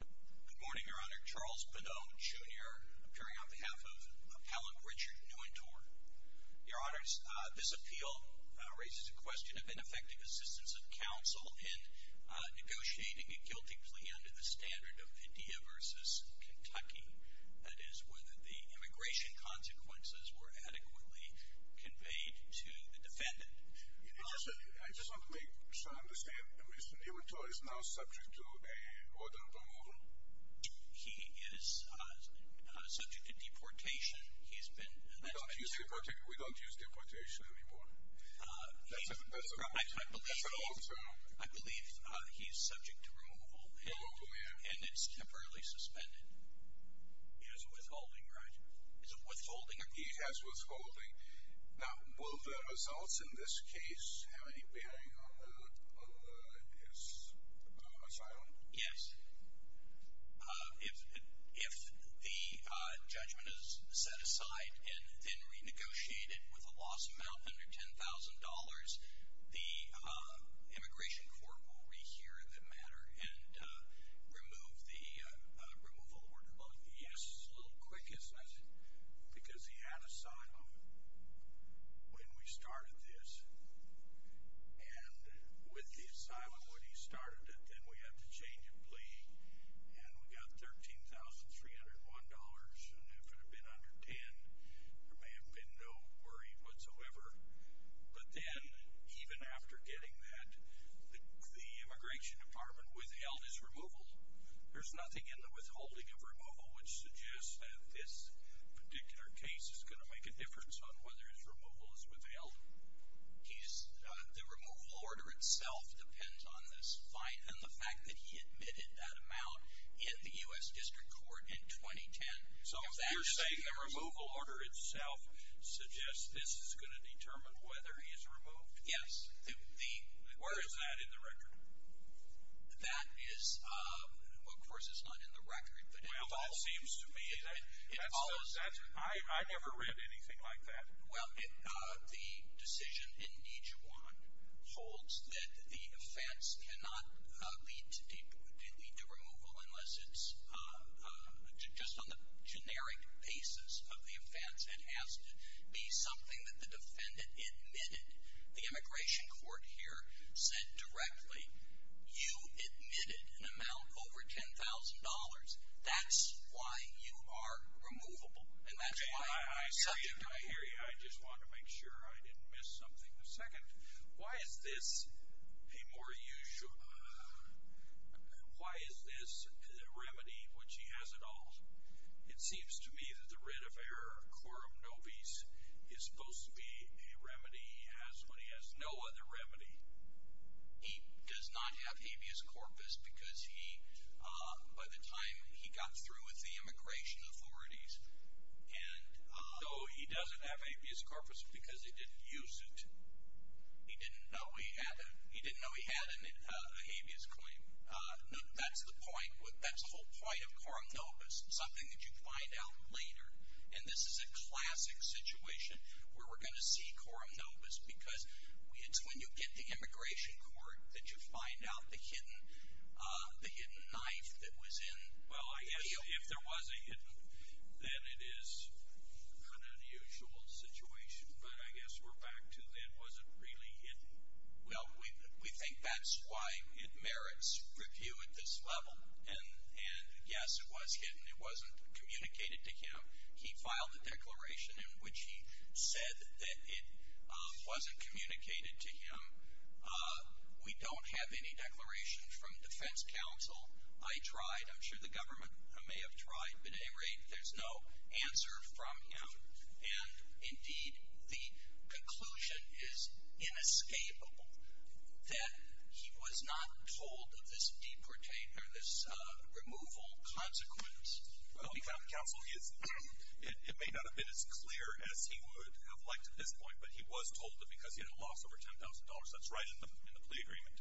Good morning, Your Honor. Charles Bonneau, Jr. appearing on behalf of Appellant Richard Nuwintore. Your Honors, this appeal raises a question of ineffective assistance of counsel in negotiating a guilty plea under the standard of India v. Kentucky, that is, whether the immigration consequences were adequately conveyed to the defendant. I just want to make sure I understand, Mr. Nuwintore is now subject to an order of removal? He is subject to deportation. He's been... We don't use deportation anymore. That's an old term. I believe he's subject to removal and it's temporarily suspended. It is withholding, right? Is it withholding? He has withholding. Now, will the results in this case have any bearing on his asylum? Yes. If the judgment is set aside and then renegotiated with a loss amount under $10,000, the immigration court will rehear the matter and remove the removal order. Well, yes, a little quick, isn't it? Because he had asylum when we started this, and with the asylum when he started it, then we had to change a plea, and we got $13,301, and if it had been under $10,000, there may have been no worry whatsoever. But then, even after getting that, the immigration department withheld his removal. There's nothing in the withholding of removal which suggests that this particular case is going to make a difference on whether his removal is withheld? The removal order itself depends on this fine and the fact that he admitted that amount in the U.S. District Court in 2010. So if you're saying the removal order itself suggests this is going to determine whether he's removed? Yes. Where is that in the record? That is, of course, it's not in the record. Well, that seems to me that I never read anything like that. Well, the decision in Dijuan holds that the offense cannot be the removal unless it's just on the generic basis of the offense and has to be something that the defendant admitted. The immigration court here said directly, you admitted an amount over $10,000. That's why you are removable, and that's why you're subject to a hearing. Okay, I hear you. I just want to make sure I didn't miss something. Second, why is this a more usual, why is this a remedy which he has at all? It seems to me that the writ of error, quorum nobis, is supposed to be a remedy he has when he has no other remedy. He does not have habeas corpus because he, by the time he got through with the immigration authorities and So he doesn't have habeas corpus because he didn't use it. He didn't know he had a habeas claim. That's the whole point of quorum nobis, something that you find out later, and this is a classic situation where we're going to see quorum nobis because it's when you get to immigration court that you find out the hidden knife that was in the deal. Well, I guess if there was a hidden, then it is an unusual situation, but I guess we're back to then, was it really hidden? Well, we think that's why it merits review at this level, and yes, it was hidden. It wasn't communicated to him. He filed a declaration in which he said that it wasn't communicated to him. We don't have any declaration from defense counsel. I tried. I'm sure the government may have tried, but at any rate, there's no answer from him, and indeed, the conclusion is inescapable that he was not told of this removal consequence. Well, counsel, it may not have been as clear as he would have liked at this point, but he was told that because he had a loss over $10,000, that's right in the plea agreement,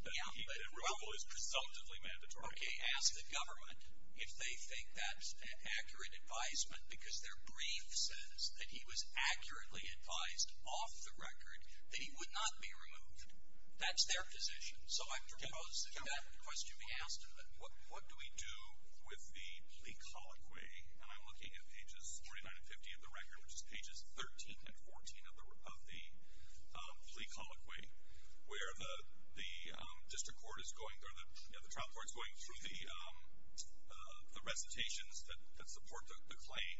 that removal is presumptively mandatory. Okay, ask the government if they think that's accurate advisement because their brief says that he was accurately advised off the record that he would not be removed. That's their position, so I propose that that question be asked. What do we do with the plea colloquy? And I'm looking at pages 49 and 50 of the record, which is pages 13 and 14 of the plea colloquy, where the district court is going through the recitations that support the claim.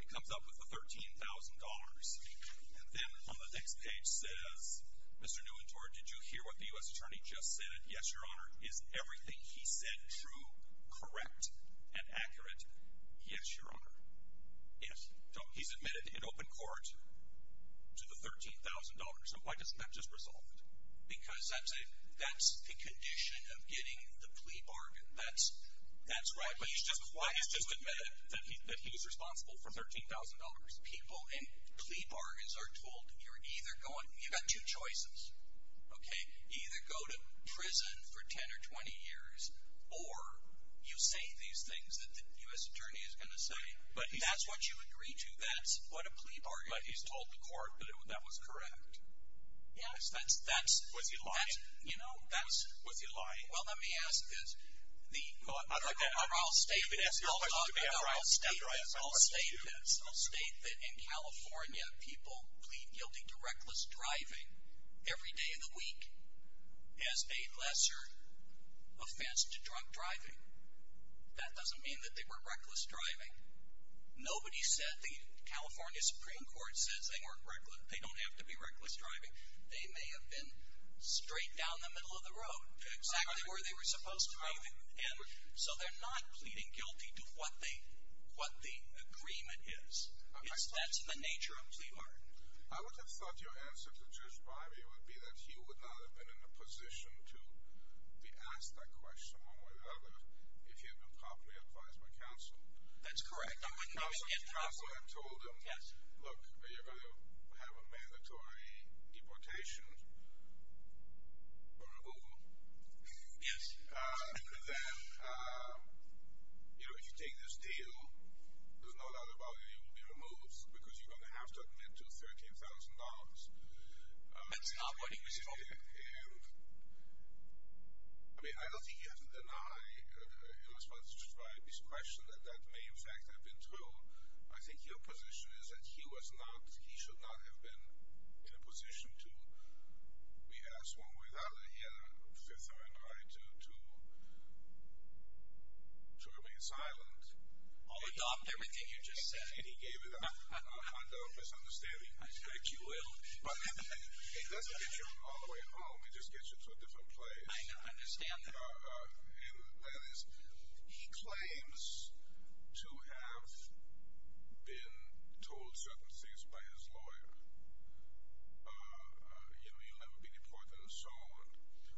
It comes up with the $13,000, and then on the next page says, Mr. Nuentor, did you hear what the U.S. Attorney just said? Yes, Your Honor. Is everything he said true, correct, and accurate? Yes, Your Honor. Yes. So he's admitted in open court to the $13,000. So why doesn't that just resolve it? Because that's the condition of getting the plea bargain. That's right. But he's just admitted that he was responsible for $13,000. People in plea bargains are told you're either going to go to prison for 10 or 20 years, or you say these things that the U.S. Attorney is going to say. That's what you agree to. That's what a plea bargain is. But he's told the court that that was correct. Yes. Was he lying? Was he lying? Well, let me ask this. I'll state this. I'll state this. I'll state this. I'll state that in California, people plead guilty to reckless driving every day of the week as a lesser offense to drunk driving. That doesn't mean that they were reckless driving. Nobody said the California Supreme Court says they don't have to be reckless driving. They may have been straight down the middle of the road to exactly where they were supposed to be. And so they're not pleading guilty to what the agreement is. That's the nature of a plea bargain. I would have thought your answer to Judge Breyer would be that he would not have been in a position to be asked that question or whatever if he had been properly advised by counsel. That's correct. Counsel had told him, look, you're going to have a mandatory deportation or removal. Yes. Then, you know, if you take this deal, there's no doubt about it, you will be removed because you're going to have to admit to $13,000. That's not what he was told. And, I mean, I don't think he has to deny in response to his question that that may in fact have been true. I think your position is that he was not, he should not have been in a position to be asked one way or the other. He had a fithering right to remain silent. I'll adopt everything you just said. I don't think he gave it up. I don't misunderstand him. I think you will. But it doesn't get you all the way home. It just gets you to a different place. I understand that. And that is, he claims to have been told certain things by his lawyer, you know, he'll never be deported and so on.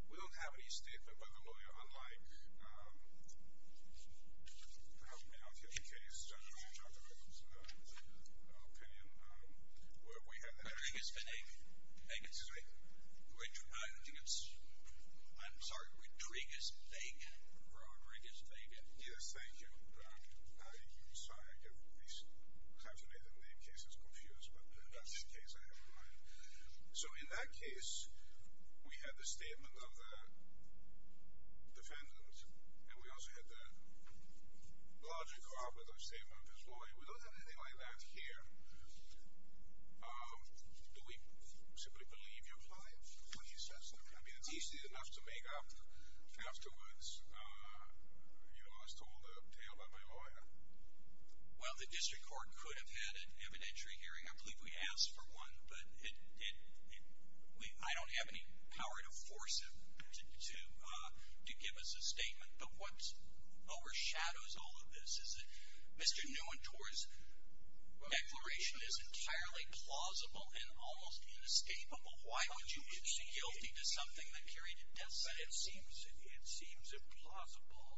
We don't have any statement by the lawyer unlike, I don't know, in this particular case, Judge Walter, in his opinion, where we had the Rodriguez-Vegan. I'm sorry, Rodriguez-Vegan. Yes, thank you. I'm sorry, I get these times of day that name cases confused, but that's the case I have in mind. So in that case, we had the statement of the defendant, and we also had the larger car with the statement of his lawyer. We don't have anything like that here. Do we simply believe you're lying when you say something like that? I mean, it's easy enough to make up afterwards, you know, I was told a tale by my lawyer. Well, the district court could have had an evidentiary hearing. I believe we asked for one, but I don't have any power to force him to give us a statement. But what overshadows all of this is that Mr. Neuentor's declaration is entirely plausible and almost inescapable. Why would you concede guilty to something that carried a death sentence? It seems implausible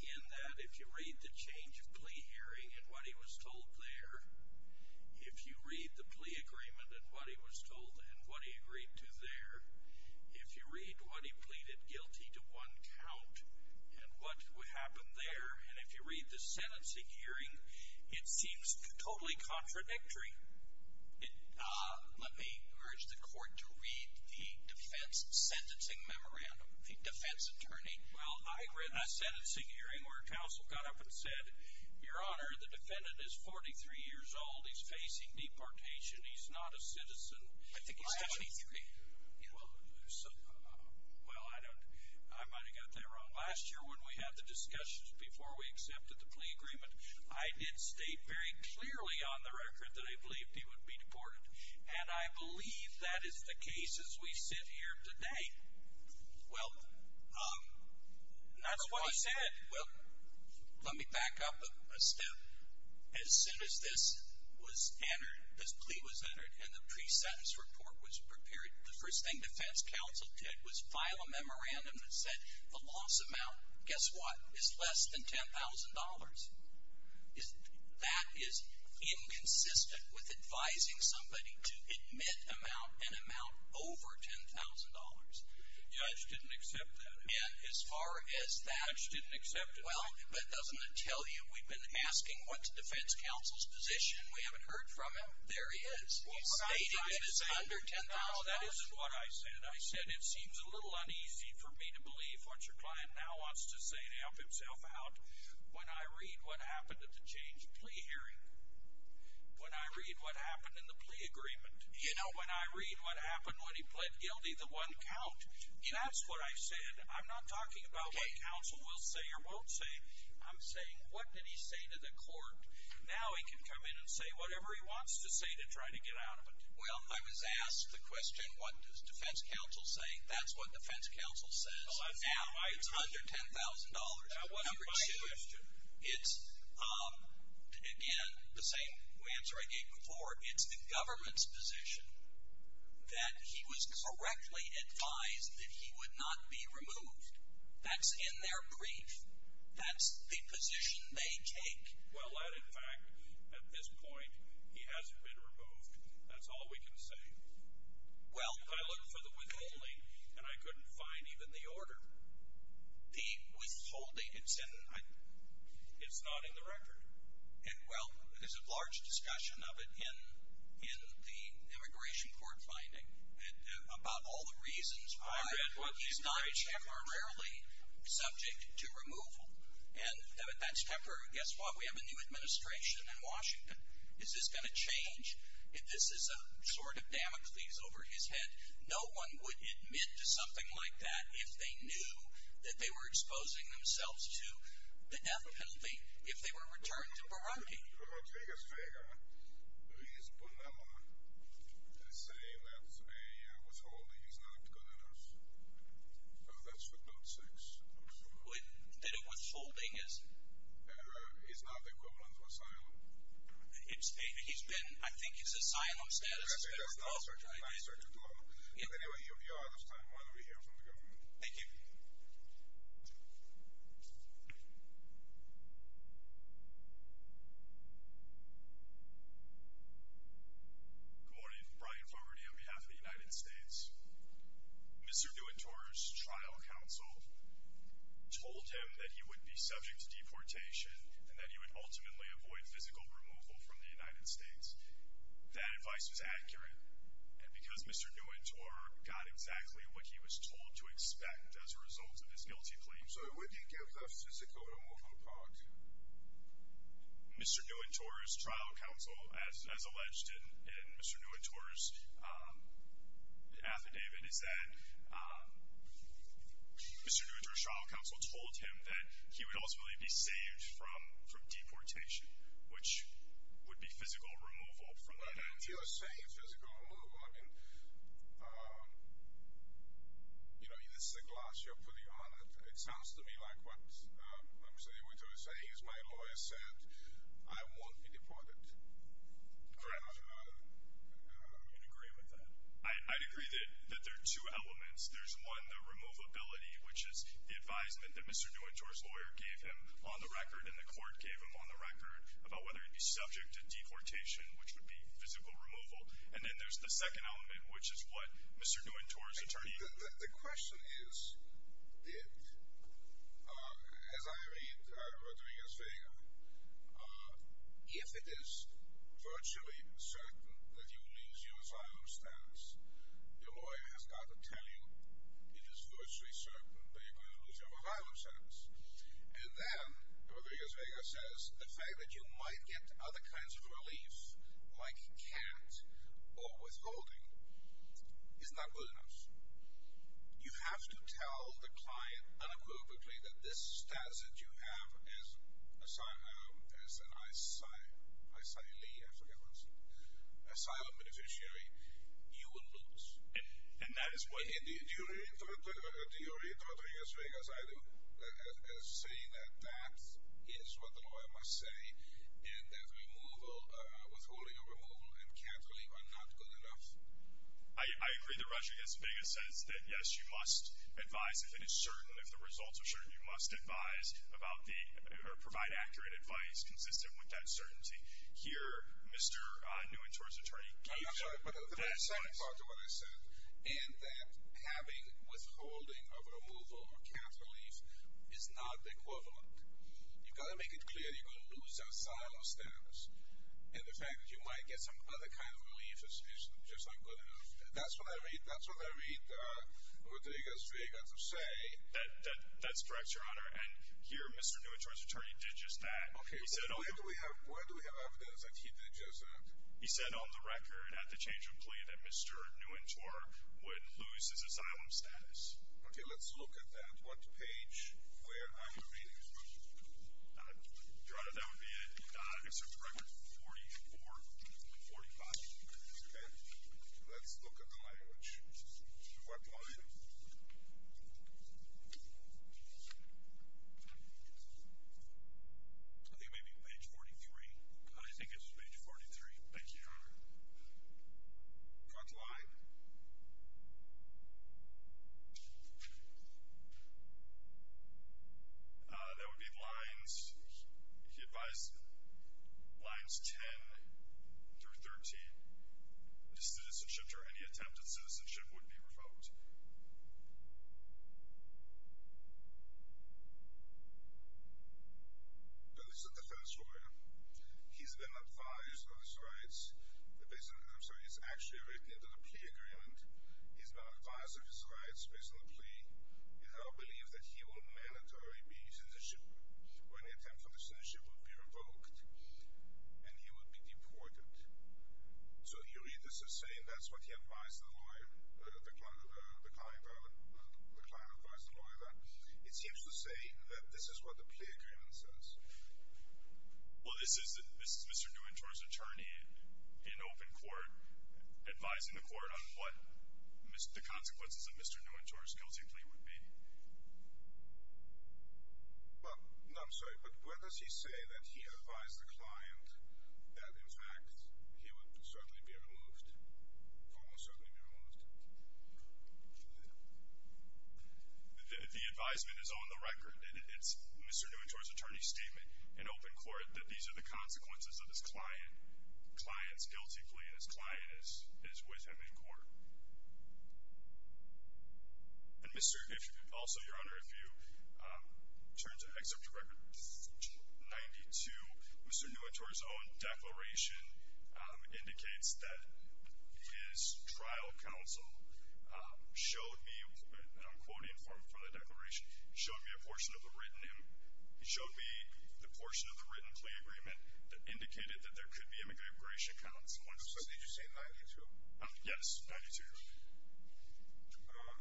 in that if you read the change of plea hearing and what he was told there, if you read the plea agreement and what he was told and what he agreed to there, if you read what he pleaded guilty to one count and what happened there, and if you read the sentencing hearing, it seems totally contradictory. Let me urge the court to read the defense sentencing memorandum, the defense attorney. Well, I read the sentencing hearing where counsel got up and said, Your Honor, the defendant is 43 years old. He's facing deportation. He's not a citizen. I think he's 23. Well, I don't, I might have got that wrong. Last year when we had the discussions before we accepted the plea agreement, I did state very clearly on the record that I believed he would be deported, and I believe that is the case as we sit here today. Well, that's what he said. Well, let me back up a step. As soon as this was entered, this plea was entered, and the pre-sentence report was prepared, the first thing defense counsel did was file a memorandum that said the loss amount, guess what, is less than $10,000. That is inconsistent with advising somebody to admit an amount over $10,000. The judge didn't accept that. And as far as that. The judge didn't accept it. Well, but doesn't it tell you we've been asking what's defense counsel's position? We haven't heard from him. There he is. He's stating it is under $10,000. No, that isn't what I said. I said it seems a little uneasy for me to believe what your client now wants to say and stamp himself out when I read what happened at the change plea hearing, when I read what happened in the plea agreement, when I read what happened when he pled guilty to one count. That's what I said. I'm not talking about what counsel will say or won't say. I'm saying what did he say to the court? Now he can come in and say whatever he wants to say to try to get out of it. Well, I was asked the question, what is defense counsel saying? That's what defense counsel says. Now it's under $10,000. That wasn't my question. Number two, it's, again, the same answer I gave before. It's the government's position that he was correctly advised that he would not be removed. That's in their brief. That's the position they take. Well, that, in fact, at this point, he hasn't been removed. That's all we can say. Well, I looked for the withholding, and I couldn't find even the order. The withholding, it's not in the record. And, well, there's a large discussion of it in the immigration court finding about all the reasons why he's not temporarily subject to removal. And that's temporary. Guess what? Is this going to change? If this is a sort of damage that he's over his head, no one would admit to something like that if they knew that they were exposing themselves to the death penalty, if they were returned to Barone. Rodriguez Vega, he's been able to say that a withholding is not good enough. That's what note six. That a withholding is? Is not the equivalent of asylum. He's been, I think his asylum status has been removed. I think that's not certain. Not certain at all. But, anyway, if you're out of time, why don't we hear from the government? Thank you. Good morning. Brian Fogarty on behalf of the United States. Mr. DeWitt Torr's trial counsel told him that he would be subject to deportation and that he would ultimately avoid physical removal from the United States. That advice was accurate. And because Mr. DeWitt Torr got exactly what he was told to expect as a result of his guilty claims. Mr. DeWitt Torr's trial counsel, as alleged in Mr. DeWitt Torr's affidavit, is that Mr. DeWitt Torr's trial counsel told him that he would ultimately be saved from deportation, which would be physical removal from the United States. You're saying physical removal. I mean, you know, this is the gloss you're putting on it. It sounds to me like what Mr. DeWitt Torr is saying is my lawyer said, I won't be deported. Fair enough. Do you agree with that? I'd agree that there are two elements. There's one, the removability, which is the advisement that Mr. DeWitt Torr's lawyer gave him on the record and the court gave him on the record about whether he'd be subject to deportation, which would be physical removal. And then there's the second element, which is what Mr. DeWitt Torr's attorney. The question is, as I read Rodriguez-Vega, if it is virtually certain that you'll lose your asylum status, your lawyer has got to tell you it is virtually certain that you're going to lose your asylum status. And then Rodriguez-Vega says the fact that you might get other kinds of relief, like can't or withholding, is not good enough. You have to tell the client unequivocally that this status that you have as an asylum beneficiary, you will lose. Do you agree with Rodriguez-Vega's saying that that is what the lawyer must say, and that withholding or removal and cancelling are not good enough? I agree that Rodriguez-Vega says that yes, you must advise if it is certain, if the results are certain, you must advise or provide accurate advice consistent with that certainty. Here, Mr. DeWitt Torr's attorney gave you that advice. I'm sorry, but the second part of what I said, and that having withholding or removal or cancelling is not equivalent. You've got to make it clear that you're going to lose your asylum status, and the fact that you might get some other kind of relief is just not good enough. That's what I read Rodriguez-Vega to say. That's correct, Your Honor, and here, Mr. DeWitt Torr's attorney did just that. Where do we have evidence that he did just that? He said on the record, at the change of plea, that Mr. Nguyen Torr would lose his asylum status. Okay, let's look at that. What page? Where are you reading from? Your Honor, that would be an excerpt from record 44 and 45. Okay. Let's look at the language. What line? I think maybe page 43. I think it's page 43. Thank you, Your Honor. What line? That would be lines 10 through 13. His citizenship or any attempt at citizenship would be revoked. Now, this is a defense lawyer. He's been advised of his rights. I'm sorry. It's actually written into the plea agreement. He's been advised of his rights based on the plea, and I believe that he will mandatory be a citizenship or any attempt at citizenship would be revoked, and he would be deported. So you read this as saying that's what he advised the lawyer, the client advised the lawyer. It seems to say that this is what the plea agreement says. Well, this is Mr. Nguyen Torr's attorney in open court advising the court on what the consequences of Mr. Nguyen Torr's guilty plea would be. Well, no, I'm sorry, but where does he say that he advised the client that, in fact, he would certainly be removed, almost certainly be removed? The advisement is on the record. It's Mr. Nguyen Torr's attorney's statement in open court that these are the consequences of his client's guilty plea, and his client is with him in court. And also, Your Honor, if you turn to excerpt record 92, Mr. Nguyen Torr's own declaration indicates that his trial counsel showed me, and I'm quoting from the declaration, showed me the portion of the written plea agreement that indicated that there could be an immigration counsel. Did you say 92? Yes, 92.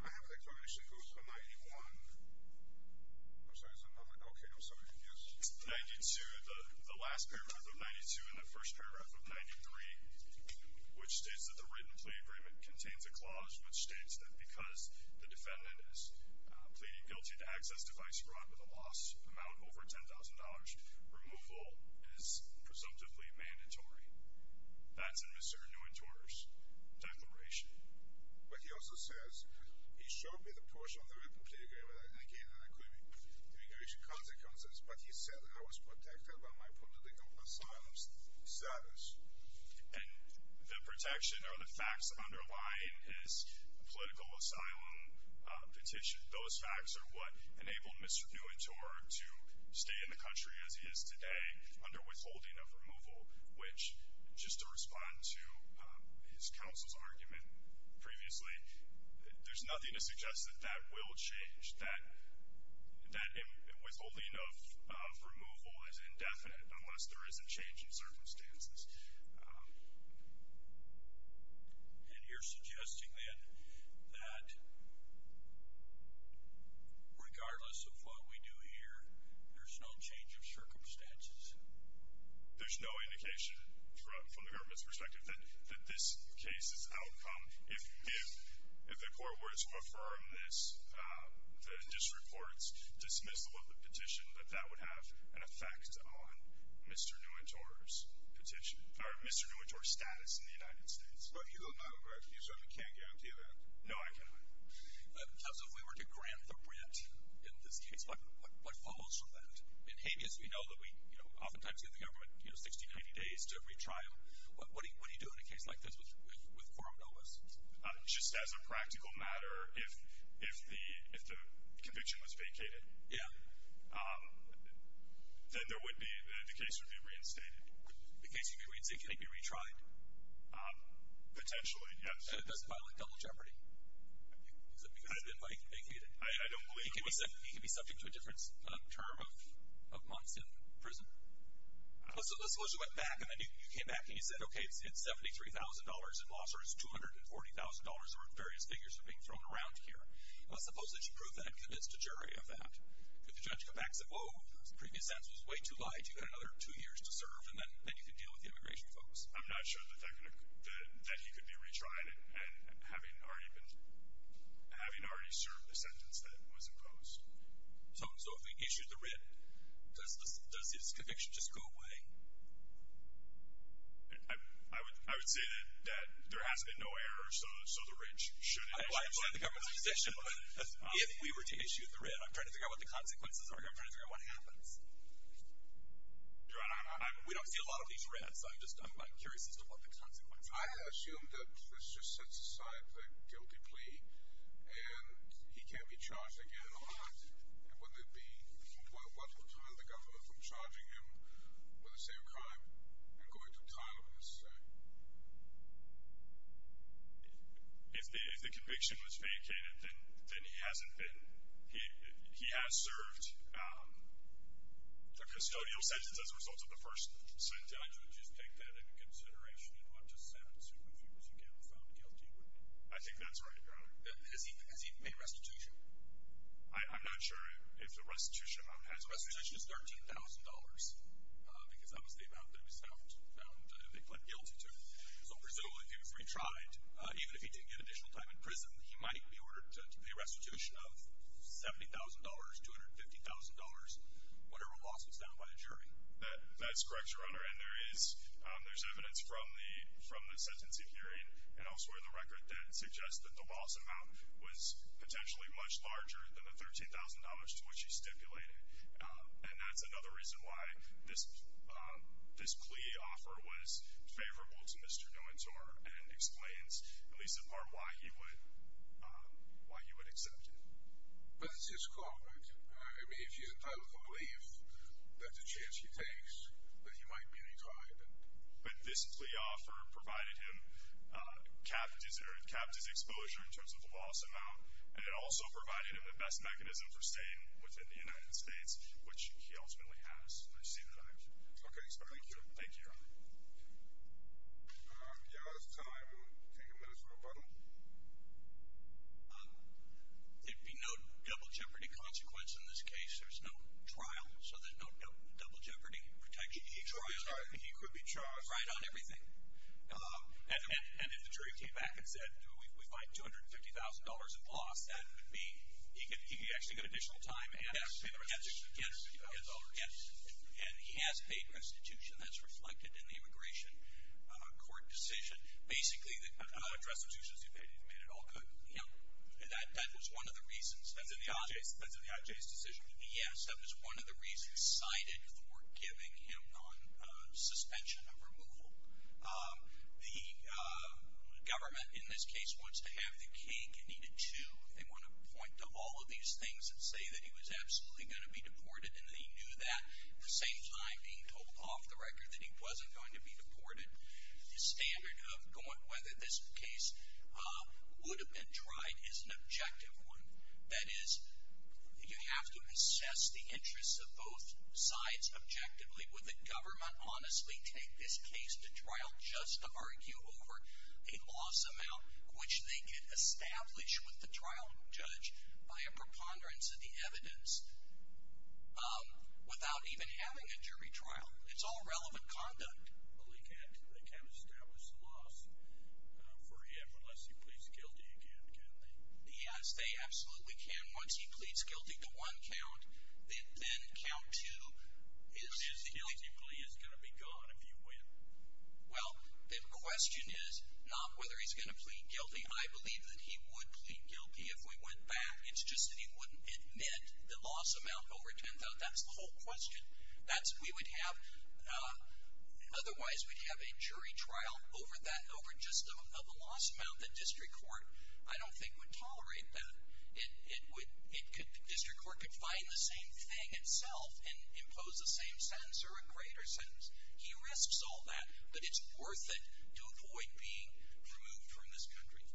I have the declaration. It goes to 91. I'm sorry, is it? Okay, I'm sorry. Yes. 92, the last paragraph of 92 and the first paragraph of 93, which states that the written plea agreement contains a clause, which states that because the defendant is pleading guilty to access device fraud with a loss amount over $10,000, removal is presumptively mandatory. That's in Mr. Nguyen Torr's declaration. But he also says he showed me the portion of the written plea agreement that indicated that there could be immigration consequences, but he said that I was protected by my political asylum status. And the protection or the facts underlying his political asylum petition, those facts are what enabled Mr. Nguyen Torr to stay in the country as he is today under withholding of removal, which, just to respond to his counsel's argument previously, there's nothing to suggest that that will change, that withholding of removal is indefinite unless there is a change in circumstances. And you're suggesting, then, that regardless of what we do here, there's no change of circumstances? There's no indication from the government's perspective that this case's outcome, if the court were to affirm this, the district court's dismissal of the petition, that that would have an effect on Mr. Nguyen Torr's petition, or Mr. Nguyen Torr's status in the United States. But you don't know, correct? You can't guarantee that? No, I cannot. Counsel, if we were to grant the rent in this case, what follows from that? In habeas, we know that we, you know, oftentimes give the government, you know, 60, 90 days to retrial. What do you do in a case like this with coram nobis? Just as a practical matter, if the conviction was vacated, then the case would be reinstated. The case would be reinstated, can it be retried? Potentially, yes. And it doesn't violate double jeopardy? I don't believe it would. He could be subject to a different term of months in prison? Let's suppose you went back and then you came back and you said, okay, it's $73,000 in loss, or it's $240,000, or various figures are being thrown around here. Let's suppose that you prove that and convince the jury of that. Could the judge come back and say, whoa, the previous sentence was way too light, you've got another two years to serve, and then you can deal with the immigration folks? I'm not sure that he could be retried and having already served the sentence that was imposed. So if we issued the writ, does his conviction just go away? I would say that there has been no error, so the writ should have been issued. I understand the government's position, but if we were to issue the writ, I'm trying to figure out what the consequences are here, I'm trying to figure out what happens. We don't see a lot of these writs, I'm just curious as to what the consequences are. I assume that this just sets aside the guilty plea, and he can't be charged again at all. And wouldn't it be quite a welcome time for the government from charging him with the same crime and going to trial over the same? If the conviction was vacated, then he hasn't been. He has served the custodial sentence as a result of the first sentence. So you would just take that into consideration? You don't just have to sue him if he was found guilty? I think that's right, Your Honor. Has he paid restitution? I'm not sure if the restitution amount has been paid. The restitution is $13,000, because that was the amount that he was found guilty to. So presumably if he was retried, even if he didn't get additional time in prison, he might be ordered to pay a restitution of $70,000, $250,000, whatever loss was found by the jury. That's correct, Your Honor, and there is evidence from the sentencing hearing and elsewhere in the record that suggests that the loss amount was potentially much larger than the $13,000 to which he stipulated. And that's another reason why this plea offer was favorable to Mr. Noentor and explains, at least in part, why he would accept it. But this is corporate. I mean, if you don't believe that the chance he takes that he might be retried and... But this plea offer provided him, capped his exposure in terms of the loss amount, and it also provided him the best mechanism for staying within the United States, which he ultimately has. I see that I'm... Okay, thank you. Thank you, Your Honor. We are out of time. We'll take a minute for a button. There'd be no double jeopardy consequence in this case. There's no trial, so there's no double jeopardy protection. He could be charged. Right on everything. And if the jury came back and said, do we find $250,000 in loss, that would mean he could actually get additional time and he has paid restitution. That's reflected in the immigration court decision. Basically, the restitution has made it all good. You know, that was one of the reasons. That's in the IJ's decision. Yes, that was one of the reasons cited for giving him on suspension of removal. The government, in this case, wants to have the cake and eat it too. They want to point to all of these things and say that he was absolutely going to be deported and that he knew that, at the same time being told off the record that he wasn't going to be deported. The standard of whether this case would have been tried is an objective one. That is, you have to assess the interests of both sides objectively. Would the government honestly take this case to trial just to argue over a loss amount, which they could establish with the trial judge by a preponderance of the evidence, without even having a jury trial? It's all relevant conduct. Well, they can't establish the loss for him unless he pleads guilty again, can they? Yes, they absolutely can. Once he pleads guilty to one count, then count two. But his guilty plea is going to be gone if you win. Well, the question is not whether he's going to plead guilty. I believe that he would plead guilty if we went back. It's just that he wouldn't admit the loss amount over $10,000. That's the whole question. Otherwise, we'd have a jury trial over just the loss amount that district court, I don't think, would tolerate. District court could find the same thing itself and impose the same sentence or a greater sentence. He risks all that, but it's worth it to avoid being removed from this country.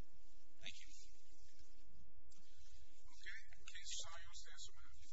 Thank you. Okay, in case someone else has something to add.